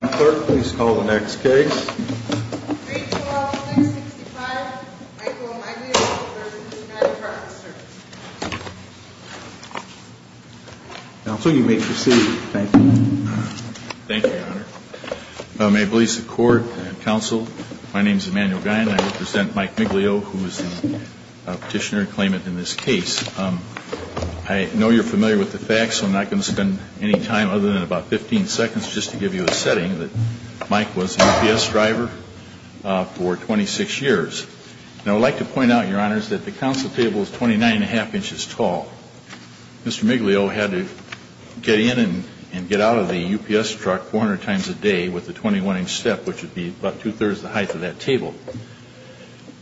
Michael McClure, please call the next case. 312-365, Michael McClure, U.S. Department of Justice. Counsel, you may proceed. Thank you. Thank you, Your Honor. May it please the Court and Counsel, my name is Emanuel Guy and I represent Mike McClure, who is the petitioner and claimant in this case. I know you're familiar with the facts, so I'm not going to spend any time other than about 15 seconds just to give you a setting that Mike was a UPS driver for 26 years. Now, I'd like to point out, Your Honors, that the counsel table is 29 and a half inches tall. Mr. Miglio had to get in and get out of the UPS truck 400 times a day with a 21-inch step, which would be about two-thirds the height of that table.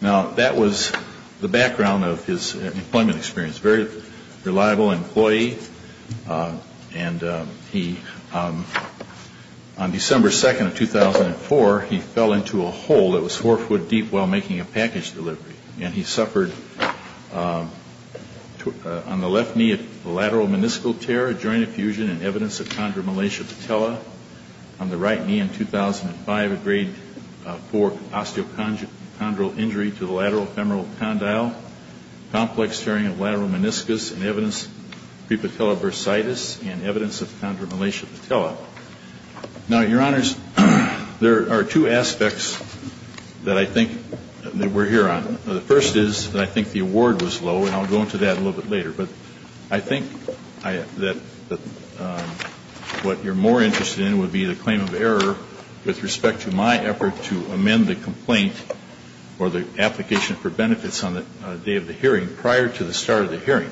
Now, that was the background of his employment experience. Very reliable employee. And he, on December 2nd of 2004, he fell into a hole that was four foot deep while making a package delivery. And he suffered, on the left knee, a lateral meniscal tear, a joint effusion, and evidence of chondromalacia patella. On the right knee in 2005, a grade IV osteochondral injury to the lateral femoral condyle, complex tearing of lateral meniscus, and evidence of prepatellar bursitis, and evidence of chondromalacia patella. Now, Your Honors, there are two aspects that I think that we're here on. The first is that I think the award was low, and I'll go into that a little bit later. But I think that what you're more interested in would be the claim of error with respect to my effort to amend the complaint or the application for benefits on the day of the hearing prior to the start of the hearing.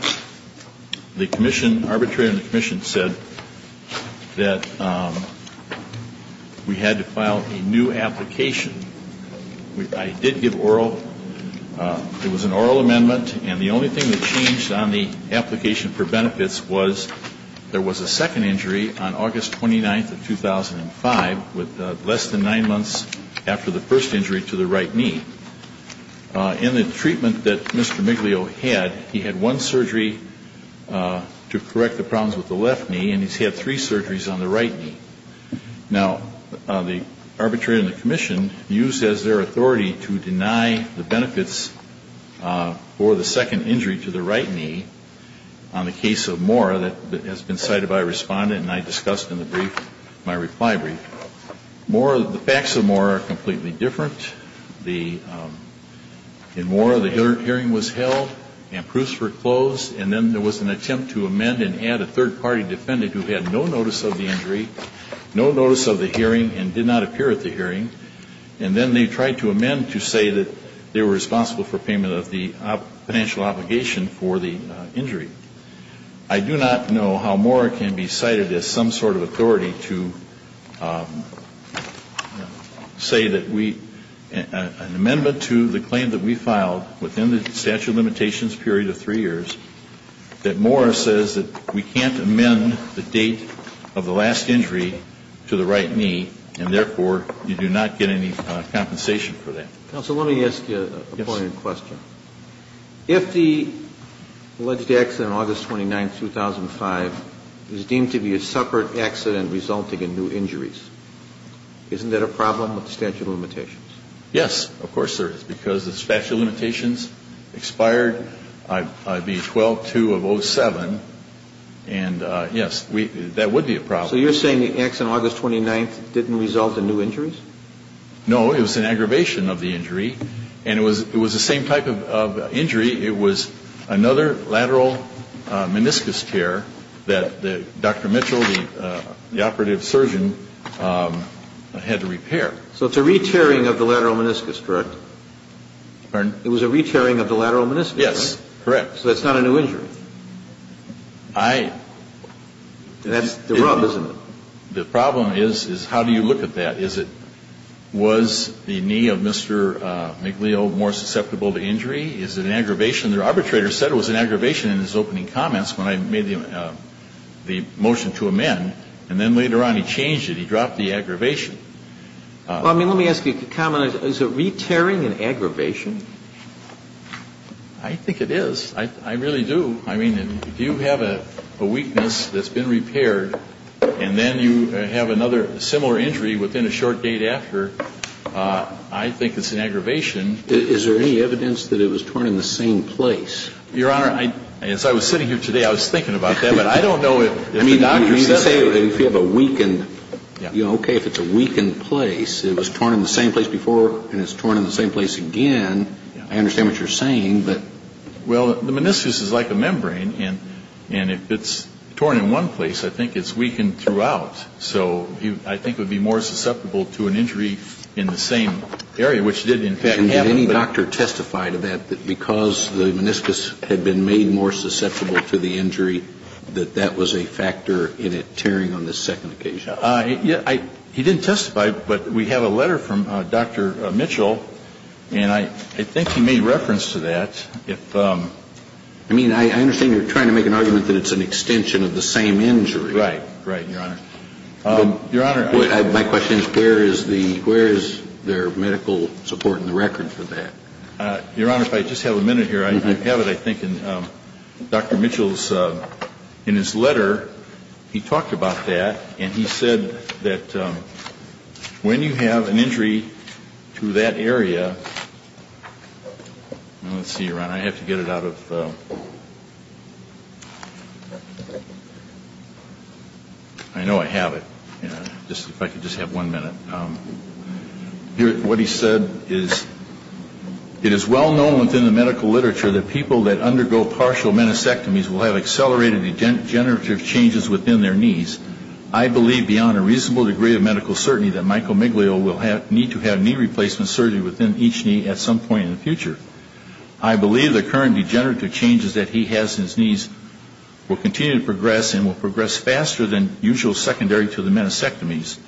The commission, arbitrator in the commission, said that we had to file a new application. I did give oral. It was an oral amendment. And the only thing that changed on the application for benefits was there was a second injury on August 29th of 2005, with less than nine months after the first injury to the right knee. In the treatment that Mr. Miglio had, he had one surgery to correct the problems with the left knee, and he's had three surgeries on the right knee. Now, the arbitrator in the commission used as their authority to deny the benefits for the second injury to the right knee. On the case of Moore, that has been cited by a respondent, and I discussed in the brief, my reply brief. The facts of Moore are completely different. In Moore, the hearing was held and proofs were closed, and then there was an attempt to amend and add a third-party defendant who had no notice of the injury, no notice of the hearing, and did not appear at the hearing. And then they tried to amend to say that they were responsible for payment of the financial obligation for the injury. I do not know how Moore can be cited as some sort of authority to say that we, an amendment to the claim that we filed within the statute of limitations period of three years, that Moore says that we can't amend the date of the last injury to the right knee, and therefore, you do not get any compensation for that. Counsel, let me ask you a point of question. If the alleged accident on August 29, 2005, is deemed to be a separate accident resulting in new injuries, isn't that a problem with the statute of limitations? Yes, of course there is, because the statute of limitations expired IB 12-2 of 07, and yes, that would be a problem. So you're saying the accident on August 29th didn't result in new injuries? No, it was an aggravation of the injury, and it was the same type of injury, it was another lateral meniscus tear that Dr. Mitchell, the operative surgeon, had to repair. So it's a re-tearing of the lateral meniscus, correct? Pardon? It was a re-tearing of the lateral meniscus, right? Yes, correct. So that's not a new injury? I... That's the rub, isn't it? The problem is, is how do you look at that? Is it, was the knee of Mr. McLeo more susceptible to injury? Is it an aggravation? The arbitrator said it was an aggravation in his opening comments when I made the motion to amend, and then later on he changed it, he dropped the aggravation. Well, I mean, let me ask you to comment. Is a re-tearing an aggravation? I think it is. I really do. I mean, if you have a weakness that's been repaired and then you have another similar injury within a short date after, I think it's an aggravation. Is there any evidence that it was torn in the same place? Your Honor, as I was sitting here today, I was thinking about that, but I don't know if the doctor said... I mean, you can say if you have a weakened, you know, okay, if it's a weakened place, it was torn in the same place before and it's torn in the same place again. I understand what you're saying, but... Well, the meniscus is like a membrane, and if it's torn in one place, I think it's weakened throughout. So I think it would be more susceptible to an injury in the same area, which it did in fact happen. Did any doctor testify to that, that because the meniscus had been made more susceptible to the injury, that that was a factor in it tearing on the second occasion? He didn't testify, but we have a letter from Dr. Mitchell, and I think he made reference to that. If... I mean, I understand you're trying to make an argument that it's an extension of the same injury. Right. Right, Your Honor. Your Honor... My question is, where is the, where is there medical support in the record for that? Your Honor, if I just have a minute here, I have it, I think, in Dr. Mitchell's, in his letter. He talked about that, and he said that when you have an injury to that area... Let's see, Your Honor, I have to get it out of... I know I have it. If I could just have one minute. What he said is, It is well known within the medical literature that people that undergo partial meniscectomies will have accelerated degenerative changes within their knees. I believe beyond a reasonable degree of medical certainty that Michael Miglio will need to have knee replacement surgery within each knee at some point in the future. I believe the current degenerative changes that he has in his knees will continue to progress and will progress faster than usual secondary to the meniscectomies,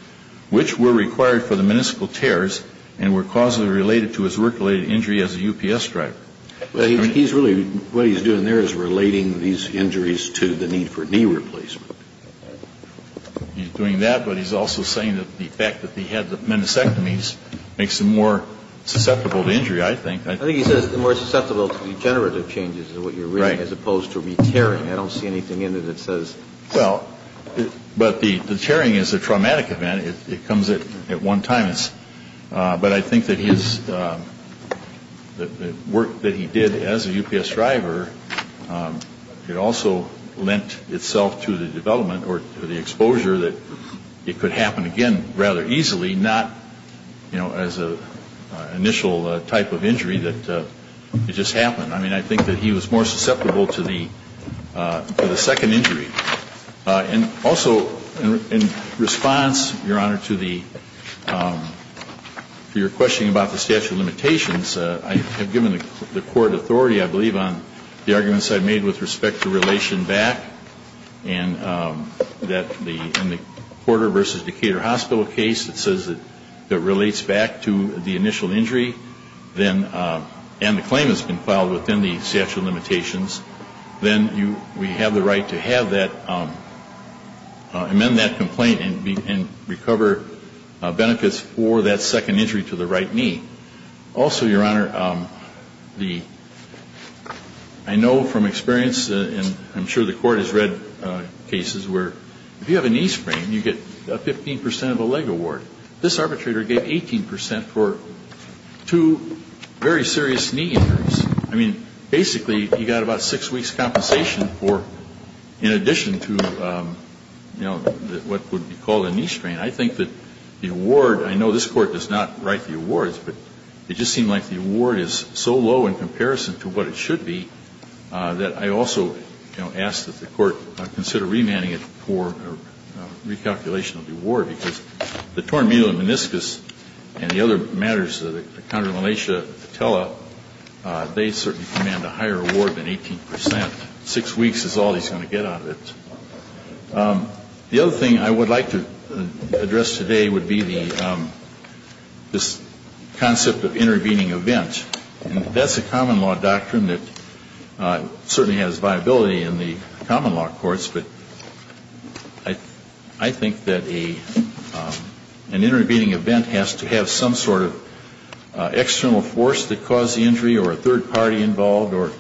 which were required for the municipal tears and were causally related to his work-related injury as a UPS driver. He's really, what he's doing there is relating these injuries to the need for knee replacement. He's doing that, but he's also saying that the fact that he had the meniscectomies makes him more susceptible to injury, I think. I think he says more susceptible to degenerative changes is what you're reading as opposed to re-tearing. I don't see anything in it that says... Well, but the tearing is a traumatic event. It comes at one time. But I think that his work that he did as a UPS driver, it also lent itself to the development or to the exposure that it could happen again rather easily, not as an initial type of injury that it just happened. I mean, I think that he was more susceptible to the second injury. And also in response, Your Honor, to your question about the statute of limitations, I have given the court authority, I believe, on the arguments I've made with respect to relation back and that in the Porter v. Decatur Hospital case, it says that it relates back to the initial injury and the claim has been filed within the statute of limitations. Then we have the right to have that, amend that complaint and recover benefits for that second injury to the right knee. Also, Your Honor, I know from experience and I'm sure the court has read cases where if you have a knee sprain, you get 15 percent of a leg award. This arbitrator gave 18 percent for two very serious knee injuries. I mean, basically, you got about six weeks' compensation for in addition to, you know, what would be called a knee strain. I mean, I think that the award, I know this Court does not write the awards, but it just seemed like the award is so low in comparison to what it should be that I also, you know, ask that the Court consider remanding it for recalculation of the award, because the torn medial and meniscus and the other matters, the chondromalacia, the patella, they certainly command a higher award than 18 percent. Six weeks is all he's going to get out of it. The other thing I would like to address today would be this concept of intervening event. That's a common law doctrine that certainly has viability in the common law courts, but I think that an intervening event has to have some sort of external force that caused the injury or a third party involved, or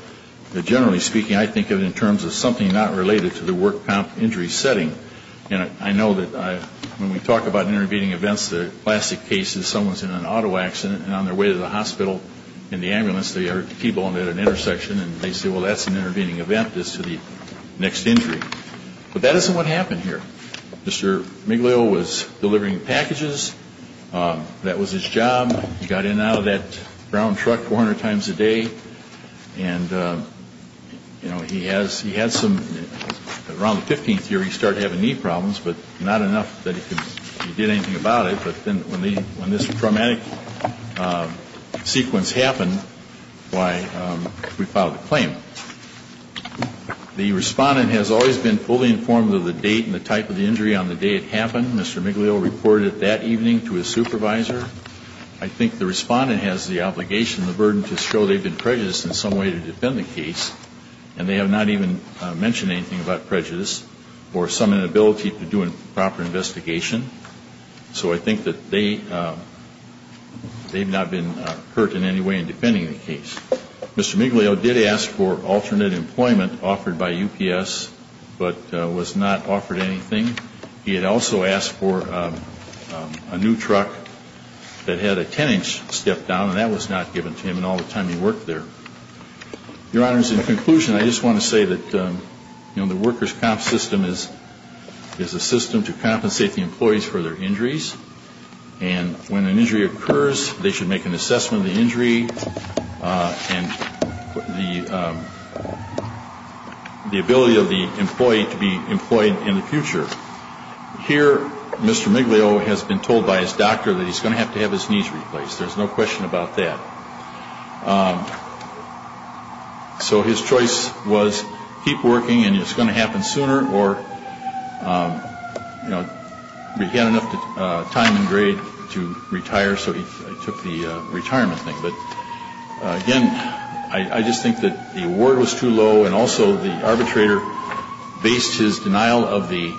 generally speaking, I think of it in terms of something not related to the work comp injury setting. And I know that when we talk about intervening events, the classic case is someone's in an auto accident and on their way to the hospital in the ambulance, they are T-boned at an intersection, and they say, well, that's an intervening event. This is the next injury. But that isn't what happened here. Mr. Miglio was delivering packages. That was his job. He got in and out of that brown truck 400 times a day. And, you know, he had some, around the 15th year, he started having knee problems, but not enough that he did anything about it. But then when this traumatic sequence happened, why, we filed a claim. The respondent has always been fully informed of the date and the type of the injury on the day it happened. Mr. Miglio reported that evening to his supervisor. I think the respondent has the obligation, the burden, to show they've been prejudiced in some way to defend the case. And they have not even mentioned anything about prejudice or some inability to do a proper investigation. So I think that they've not been hurt in any way in defending the case. Mr. Miglio did ask for alternate employment offered by UPS, but was not offered anything. He had also asked for a new truck that had a 10-inch step down, and that was not given to him in all the time he worked there. Your Honors, in conclusion, I just want to say that, you know, the workers' comp system is a system to compensate the employees for their injuries. And when an injury occurs, they should make an assessment of the injury and the ability of the employee to be employed in the future. Here, Mr. Miglio has been told by his doctor that he's going to have to have his knees replaced. There's no question about that. So his choice was keep working and it's going to happen sooner, or, you know, he had enough time and grade to retire, so he took the retirement thing. But, again, I just think that the award was too low, and also the arbitrator based his denial of the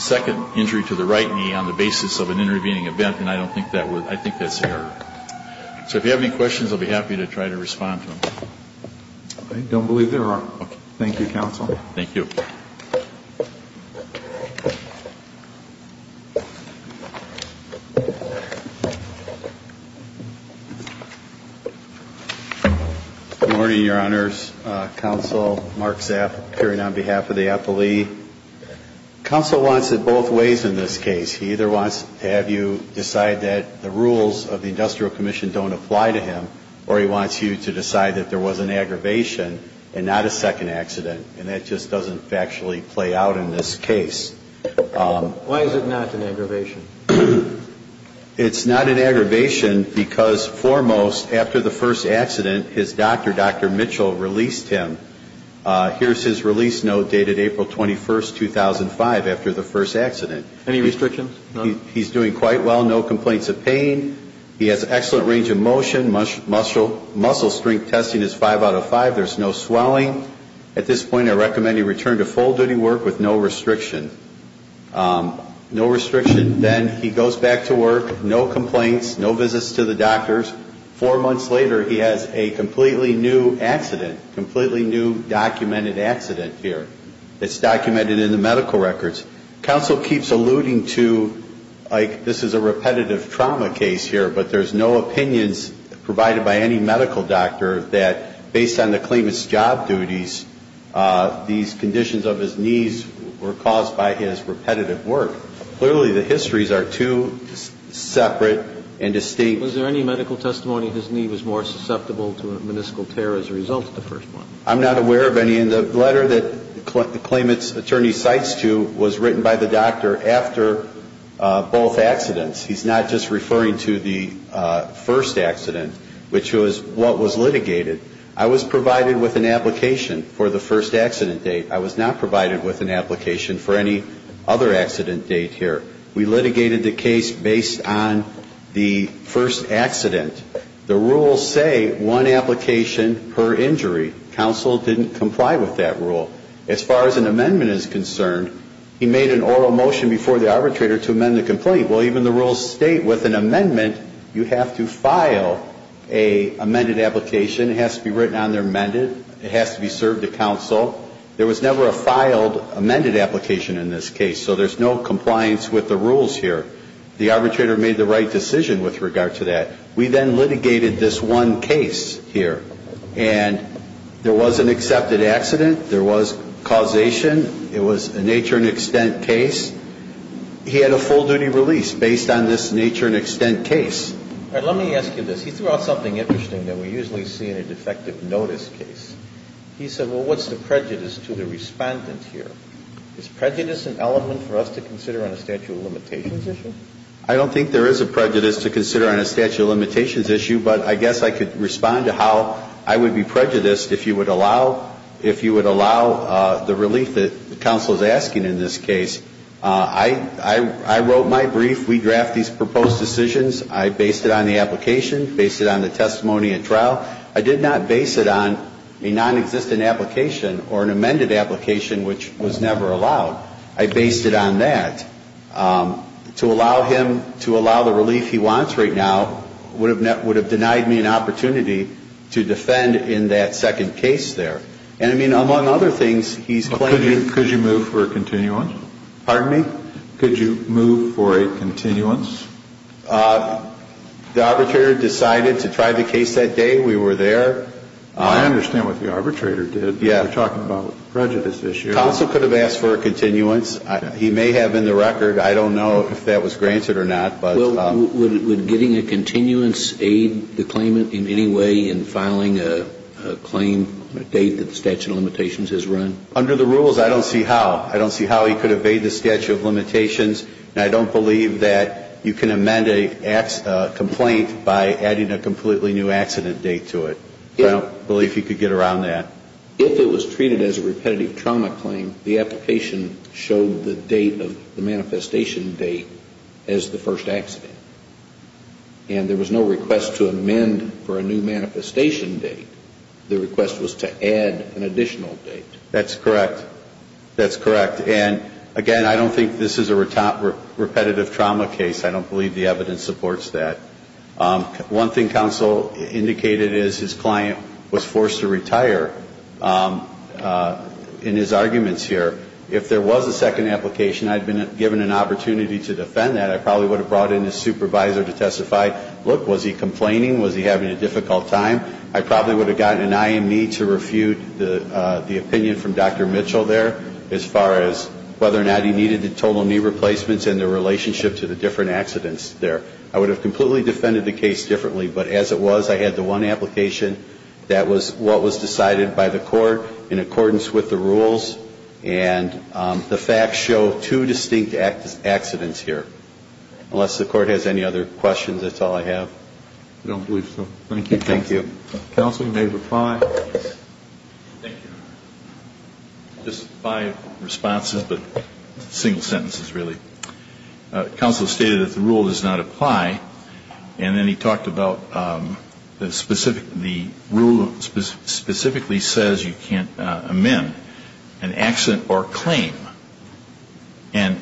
second injury to the right knee on the basis of an intervening event, and I don't think that was – I think that's error. So if you have any questions, I'll be happy to try to respond to them. I don't believe there are. Thank you, Counsel. Thank you. Good morning, Your Honors. Counsel Mark Zapp, appearing on behalf of the appellee. Counsel wants it both ways in this case. He either wants to have you decide that the rules of the Industrial Commission don't apply to him, or he wants you to decide that there was an aggravation and not a second accident, and that just doesn't factually play out in this case. Why is it not an aggravation? It's not an aggravation because, foremost, after the first accident, his doctor, Dr. Mitchell, released him. Here's his release note dated April 21, 2005, after the first accident. Any restrictions? He's doing quite well, no complaints of pain. He has an excellent range of motion. Muscle strength testing is five out of five. There's no swelling. At this point, I recommend he return to full duty work with no restriction. No restriction. Then he goes back to work, no complaints, no visits to the doctors. Four months later, he has a completely new accident, completely new documented accident here. It's documented in the medical records. Counsel keeps alluding to, like, this is a repetitive trauma case here, but there's no opinions provided by any medical doctor that, based on the claimant's job duties, these conditions of his knees were caused by his repetitive work. Clearly, the histories are too separate and distinct. Was there any medical testimony his knee was more susceptible to a meniscal tear as a result of the first one? I'm not aware of any. And the letter that the claimant's attorney cites to was written by the doctor after both accidents. He's not just referring to the first accident, which was what was litigated. I was provided with an application for the first accident date. I was not provided with an application for any other accident date here. We litigated the case based on the first accident. The rules say one application per injury. Counsel didn't comply with that rule. As far as an amendment is concerned, he made an oral motion before the arbitrator to amend the complaint. Well, even the rules state with an amendment, you have to file an amended application. It has to be written on there, amended. It has to be served to counsel. There was never a filed amended application in this case, so there's no compliance with the rules here. The arbitrator made the right decision with regard to that. We then litigated this one case here, and there was an accepted accident. There was causation. It was a nature and extent case. He had a full duty release based on this nature and extent case. All right. Let me ask you this. He threw out something interesting that we usually see in a defective notice case. He said, well, what's the prejudice to the Respondent here? Is prejudice an element for us to consider on a statute of limitations issue? I don't think there is a prejudice to consider on a statute of limitations issue, but I guess I could respond to how I would be prejudiced if you would allow, if you I wrote my brief. We draft these proposed decisions. I based it on the application, based it on the testimony at trial. I did not base it on a non-existent application or an amended application, which was never allowed. I based it on that. To allow him to allow the relief he wants right now would have denied me an opportunity to defend in that second case there. And, I mean, among other things, he's claiming Could you move for a continuance? Pardon me? Could you move for a continuance? The arbitrator decided to try the case that day. We were there. I understand what the arbitrator did. Yeah. We're talking about a prejudice issue. Counsel could have asked for a continuance. He may have in the record. I don't know if that was granted or not, but Would getting a continuance aid the claimant in any way in filing a claim on a date that the statute of limitations has run? Under the rules, I don't see how. I don't see how he could evade the statute of limitations. And I don't believe that you can amend a complaint by adding a completely new accident date to it. I don't believe he could get around that. If it was treated as a repetitive trauma claim, the application showed the date of the manifestation date as the first accident. And there was no request to amend for a new manifestation date. The request was to add an additional date. That's correct. That's correct. And, again, I don't think this is a repetitive trauma case. I don't believe the evidence supports that. One thing counsel indicated is his client was forced to retire in his arguments here. If there was a second application, I'd been given an opportunity to defend that. I probably would have brought in a supervisor to testify. Look, was he complaining? Was he having a difficult time? I probably would have gotten an IME to refute the opinion from Dr. Mitchell there as far as whether or not he needed the total knee replacements and the relationship to the different accidents there. I would have completely defended the case differently. But as it was, I had the one application that was what was decided by the court in accordance with the rules. And the facts show two distinct accidents here. Unless the court has any other questions, that's all I have. I don't believe so. Thank you. Thank you. Counsel, you may reply. Thank you. Just five responses, but single sentences, really. Counsel stated that the rule does not apply. And then he talked about the rule specifically says you can't amend an accident or claim. And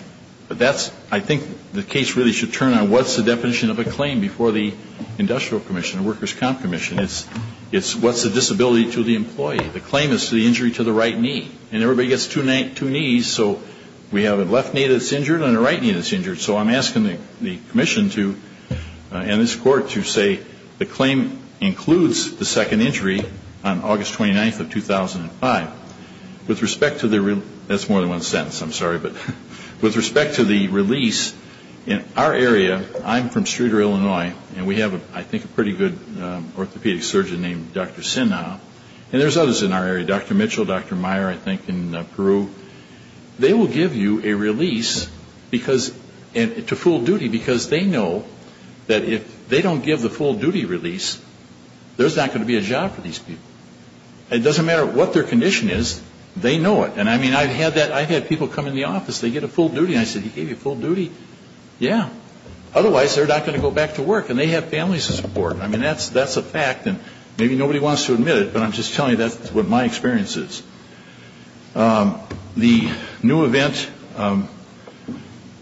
that's, I think the case really should turn on what's the definition of a claim before the industrial commission, the workers' comp commission. It's what's the disability to the employee. The claim is the injury to the right knee. And everybody gets two knees, so we have a left knee that's injured and a right knee that's injured. So I'm asking the commission to, and this court, to say the claim includes the second injury on August 29th of 2005. With respect to the, that's more than one sentence, I'm sorry. But with respect to the release, in our area, I'm from Streeter, Illinois, and we have I think a pretty good orthopedic surgeon named Dr. Sinha. And there's others in our area, Dr. Mitchell, Dr. Meyer, I think, in Peru. They will give you a release because, to full duty, because they know that if they don't give the full duty release, there's not going to be a job for these people. It doesn't matter what their condition is. They know it. And, I mean, I've had that. I've had people come in the office. They get a full duty. And I said, He gave you full duty? Yeah. Otherwise, they're not going to go back to work. And they have families to support. I mean, that's a fact. And maybe nobody wants to admit it, but I'm just telling you that's what my experience is. The new event,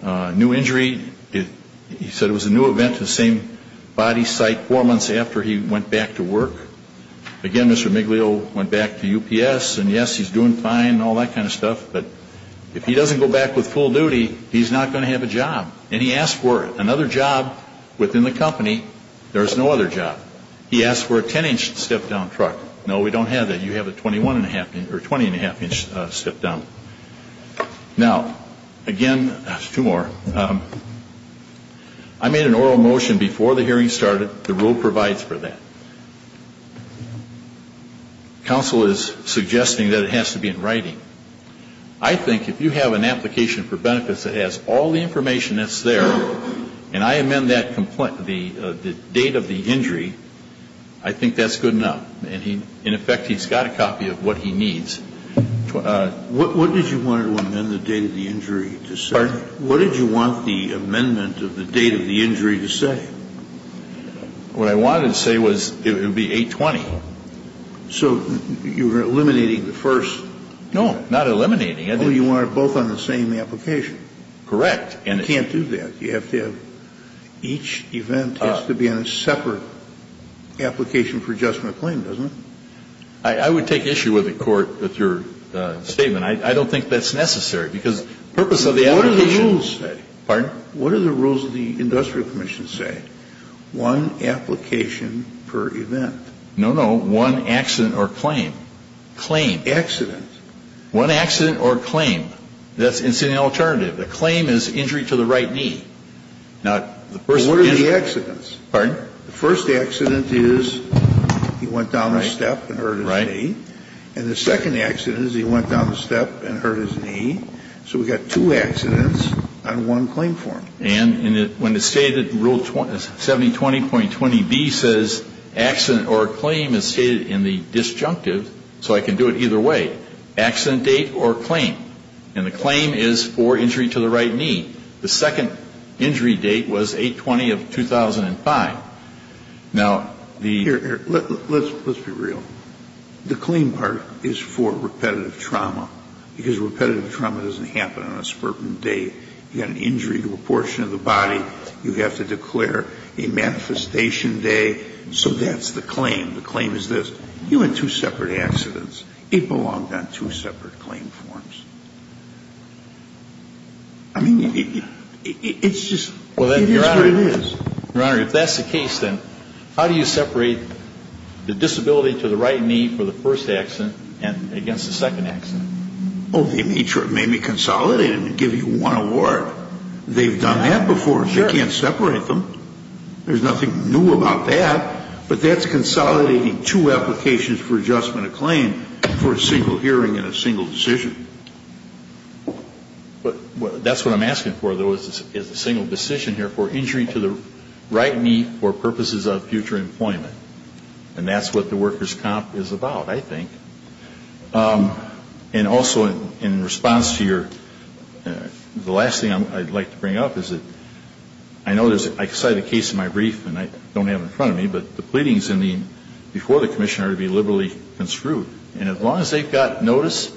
new injury, he said it was a new event to the same body site four months after he went back to work. Again, Mr. Miglio went back to UPS. And, yes, he's doing fine and all that kind of stuff. But if he doesn't go back with full duty, he's not going to have a job. And he asked for another job within the company. There was no other job. He asked for a 10-inch step-down truck. No, we don't have that. You have a 20-and-a-half-inch step-down. Now, again, two more. I made an oral motion before the hearing started. The rule provides for that. Counsel is suggesting that it has to be in writing. I think if you have an application for benefits that has all the information that's there, and I amend that complaint, the date of the injury, I think that's good enough. And, in effect, he's got a copy of what he needs. What did you want to amend the date of the injury to say? What did you want the amendment of the date of the injury to say? What I wanted to say was it would be 8-20. So you were eliminating the first. No, not eliminating. Oh, you want it both on the same application. Correct. You can't do that. You have to have each event has to be on a separate application for adjustment of claim, doesn't it? I would take issue with the Court with your statement. I don't think that's necessary. Because the purpose of the application What do the rules say? Pardon? What do the rules of the Industrial Commission say? One application per event. No, no. One accident or claim. Claim. Accident. One accident or claim. That's incidental alternative. A claim is injury to the right knee. Now, the first injury What are the accidents? Pardon? The first accident is he went down the step and hurt his knee. Right. And the second accident is he went down the step and hurt his knee. So we've got two accidents on one claim form. And when it's stated in Rule 7020.20B says accident or claim is stated in the disjunctive. So I can do it either way. Accident date or claim. And the claim is for injury to the right knee. The second injury date was 8-20 of 2005. Now, the Let's be real. The claim part is for repetitive trauma. Because repetitive trauma doesn't happen on a spurting date. You've got an injury to a portion of the body. You have to declare a manifestation day. So that's the claim. The claim is this. You had two separate accidents. It belonged on two separate claim forms. I mean, it's just, it is what it is. Your Honor, if that's the case, then how do you separate the disability to the right knee for the first accident and against the second accident? Oh, they made sure it may be consolidated and give you one award. They've done that before. Sure. They can't separate them. There's nothing new about that. But that's consolidating two applications for adjustment of claim for a single hearing and a single decision. But that's what I'm asking for, though, is a single decision here for injury to the right knee for purposes of future employment. And that's what the workers' comp is about, I think. And also, in response to your, the last thing I'd like to bring up is that I know there's, I cited a case in my brief, and I don't have it in front of me, but the pleadings before the commissioner are to be liberally construed. And as long as they've got notice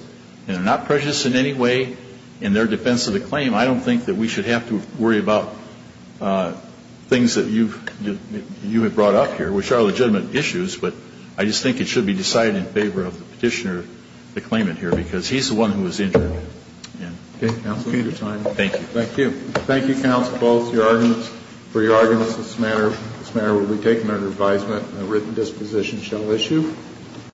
and are not prejudiced in any way in their defense of the claim, I don't think that we should have to worry about things that you have brought up here, which are legitimate issues. But I just think it should be decided in favor of the petitioner, the claimant here, because he's the one who was injured. Okay. Counsel, your time. Thank you. Thank you. Thank you, counsel, both for your arguments. This matter will be taken under advisement, and a written disposition shall issue.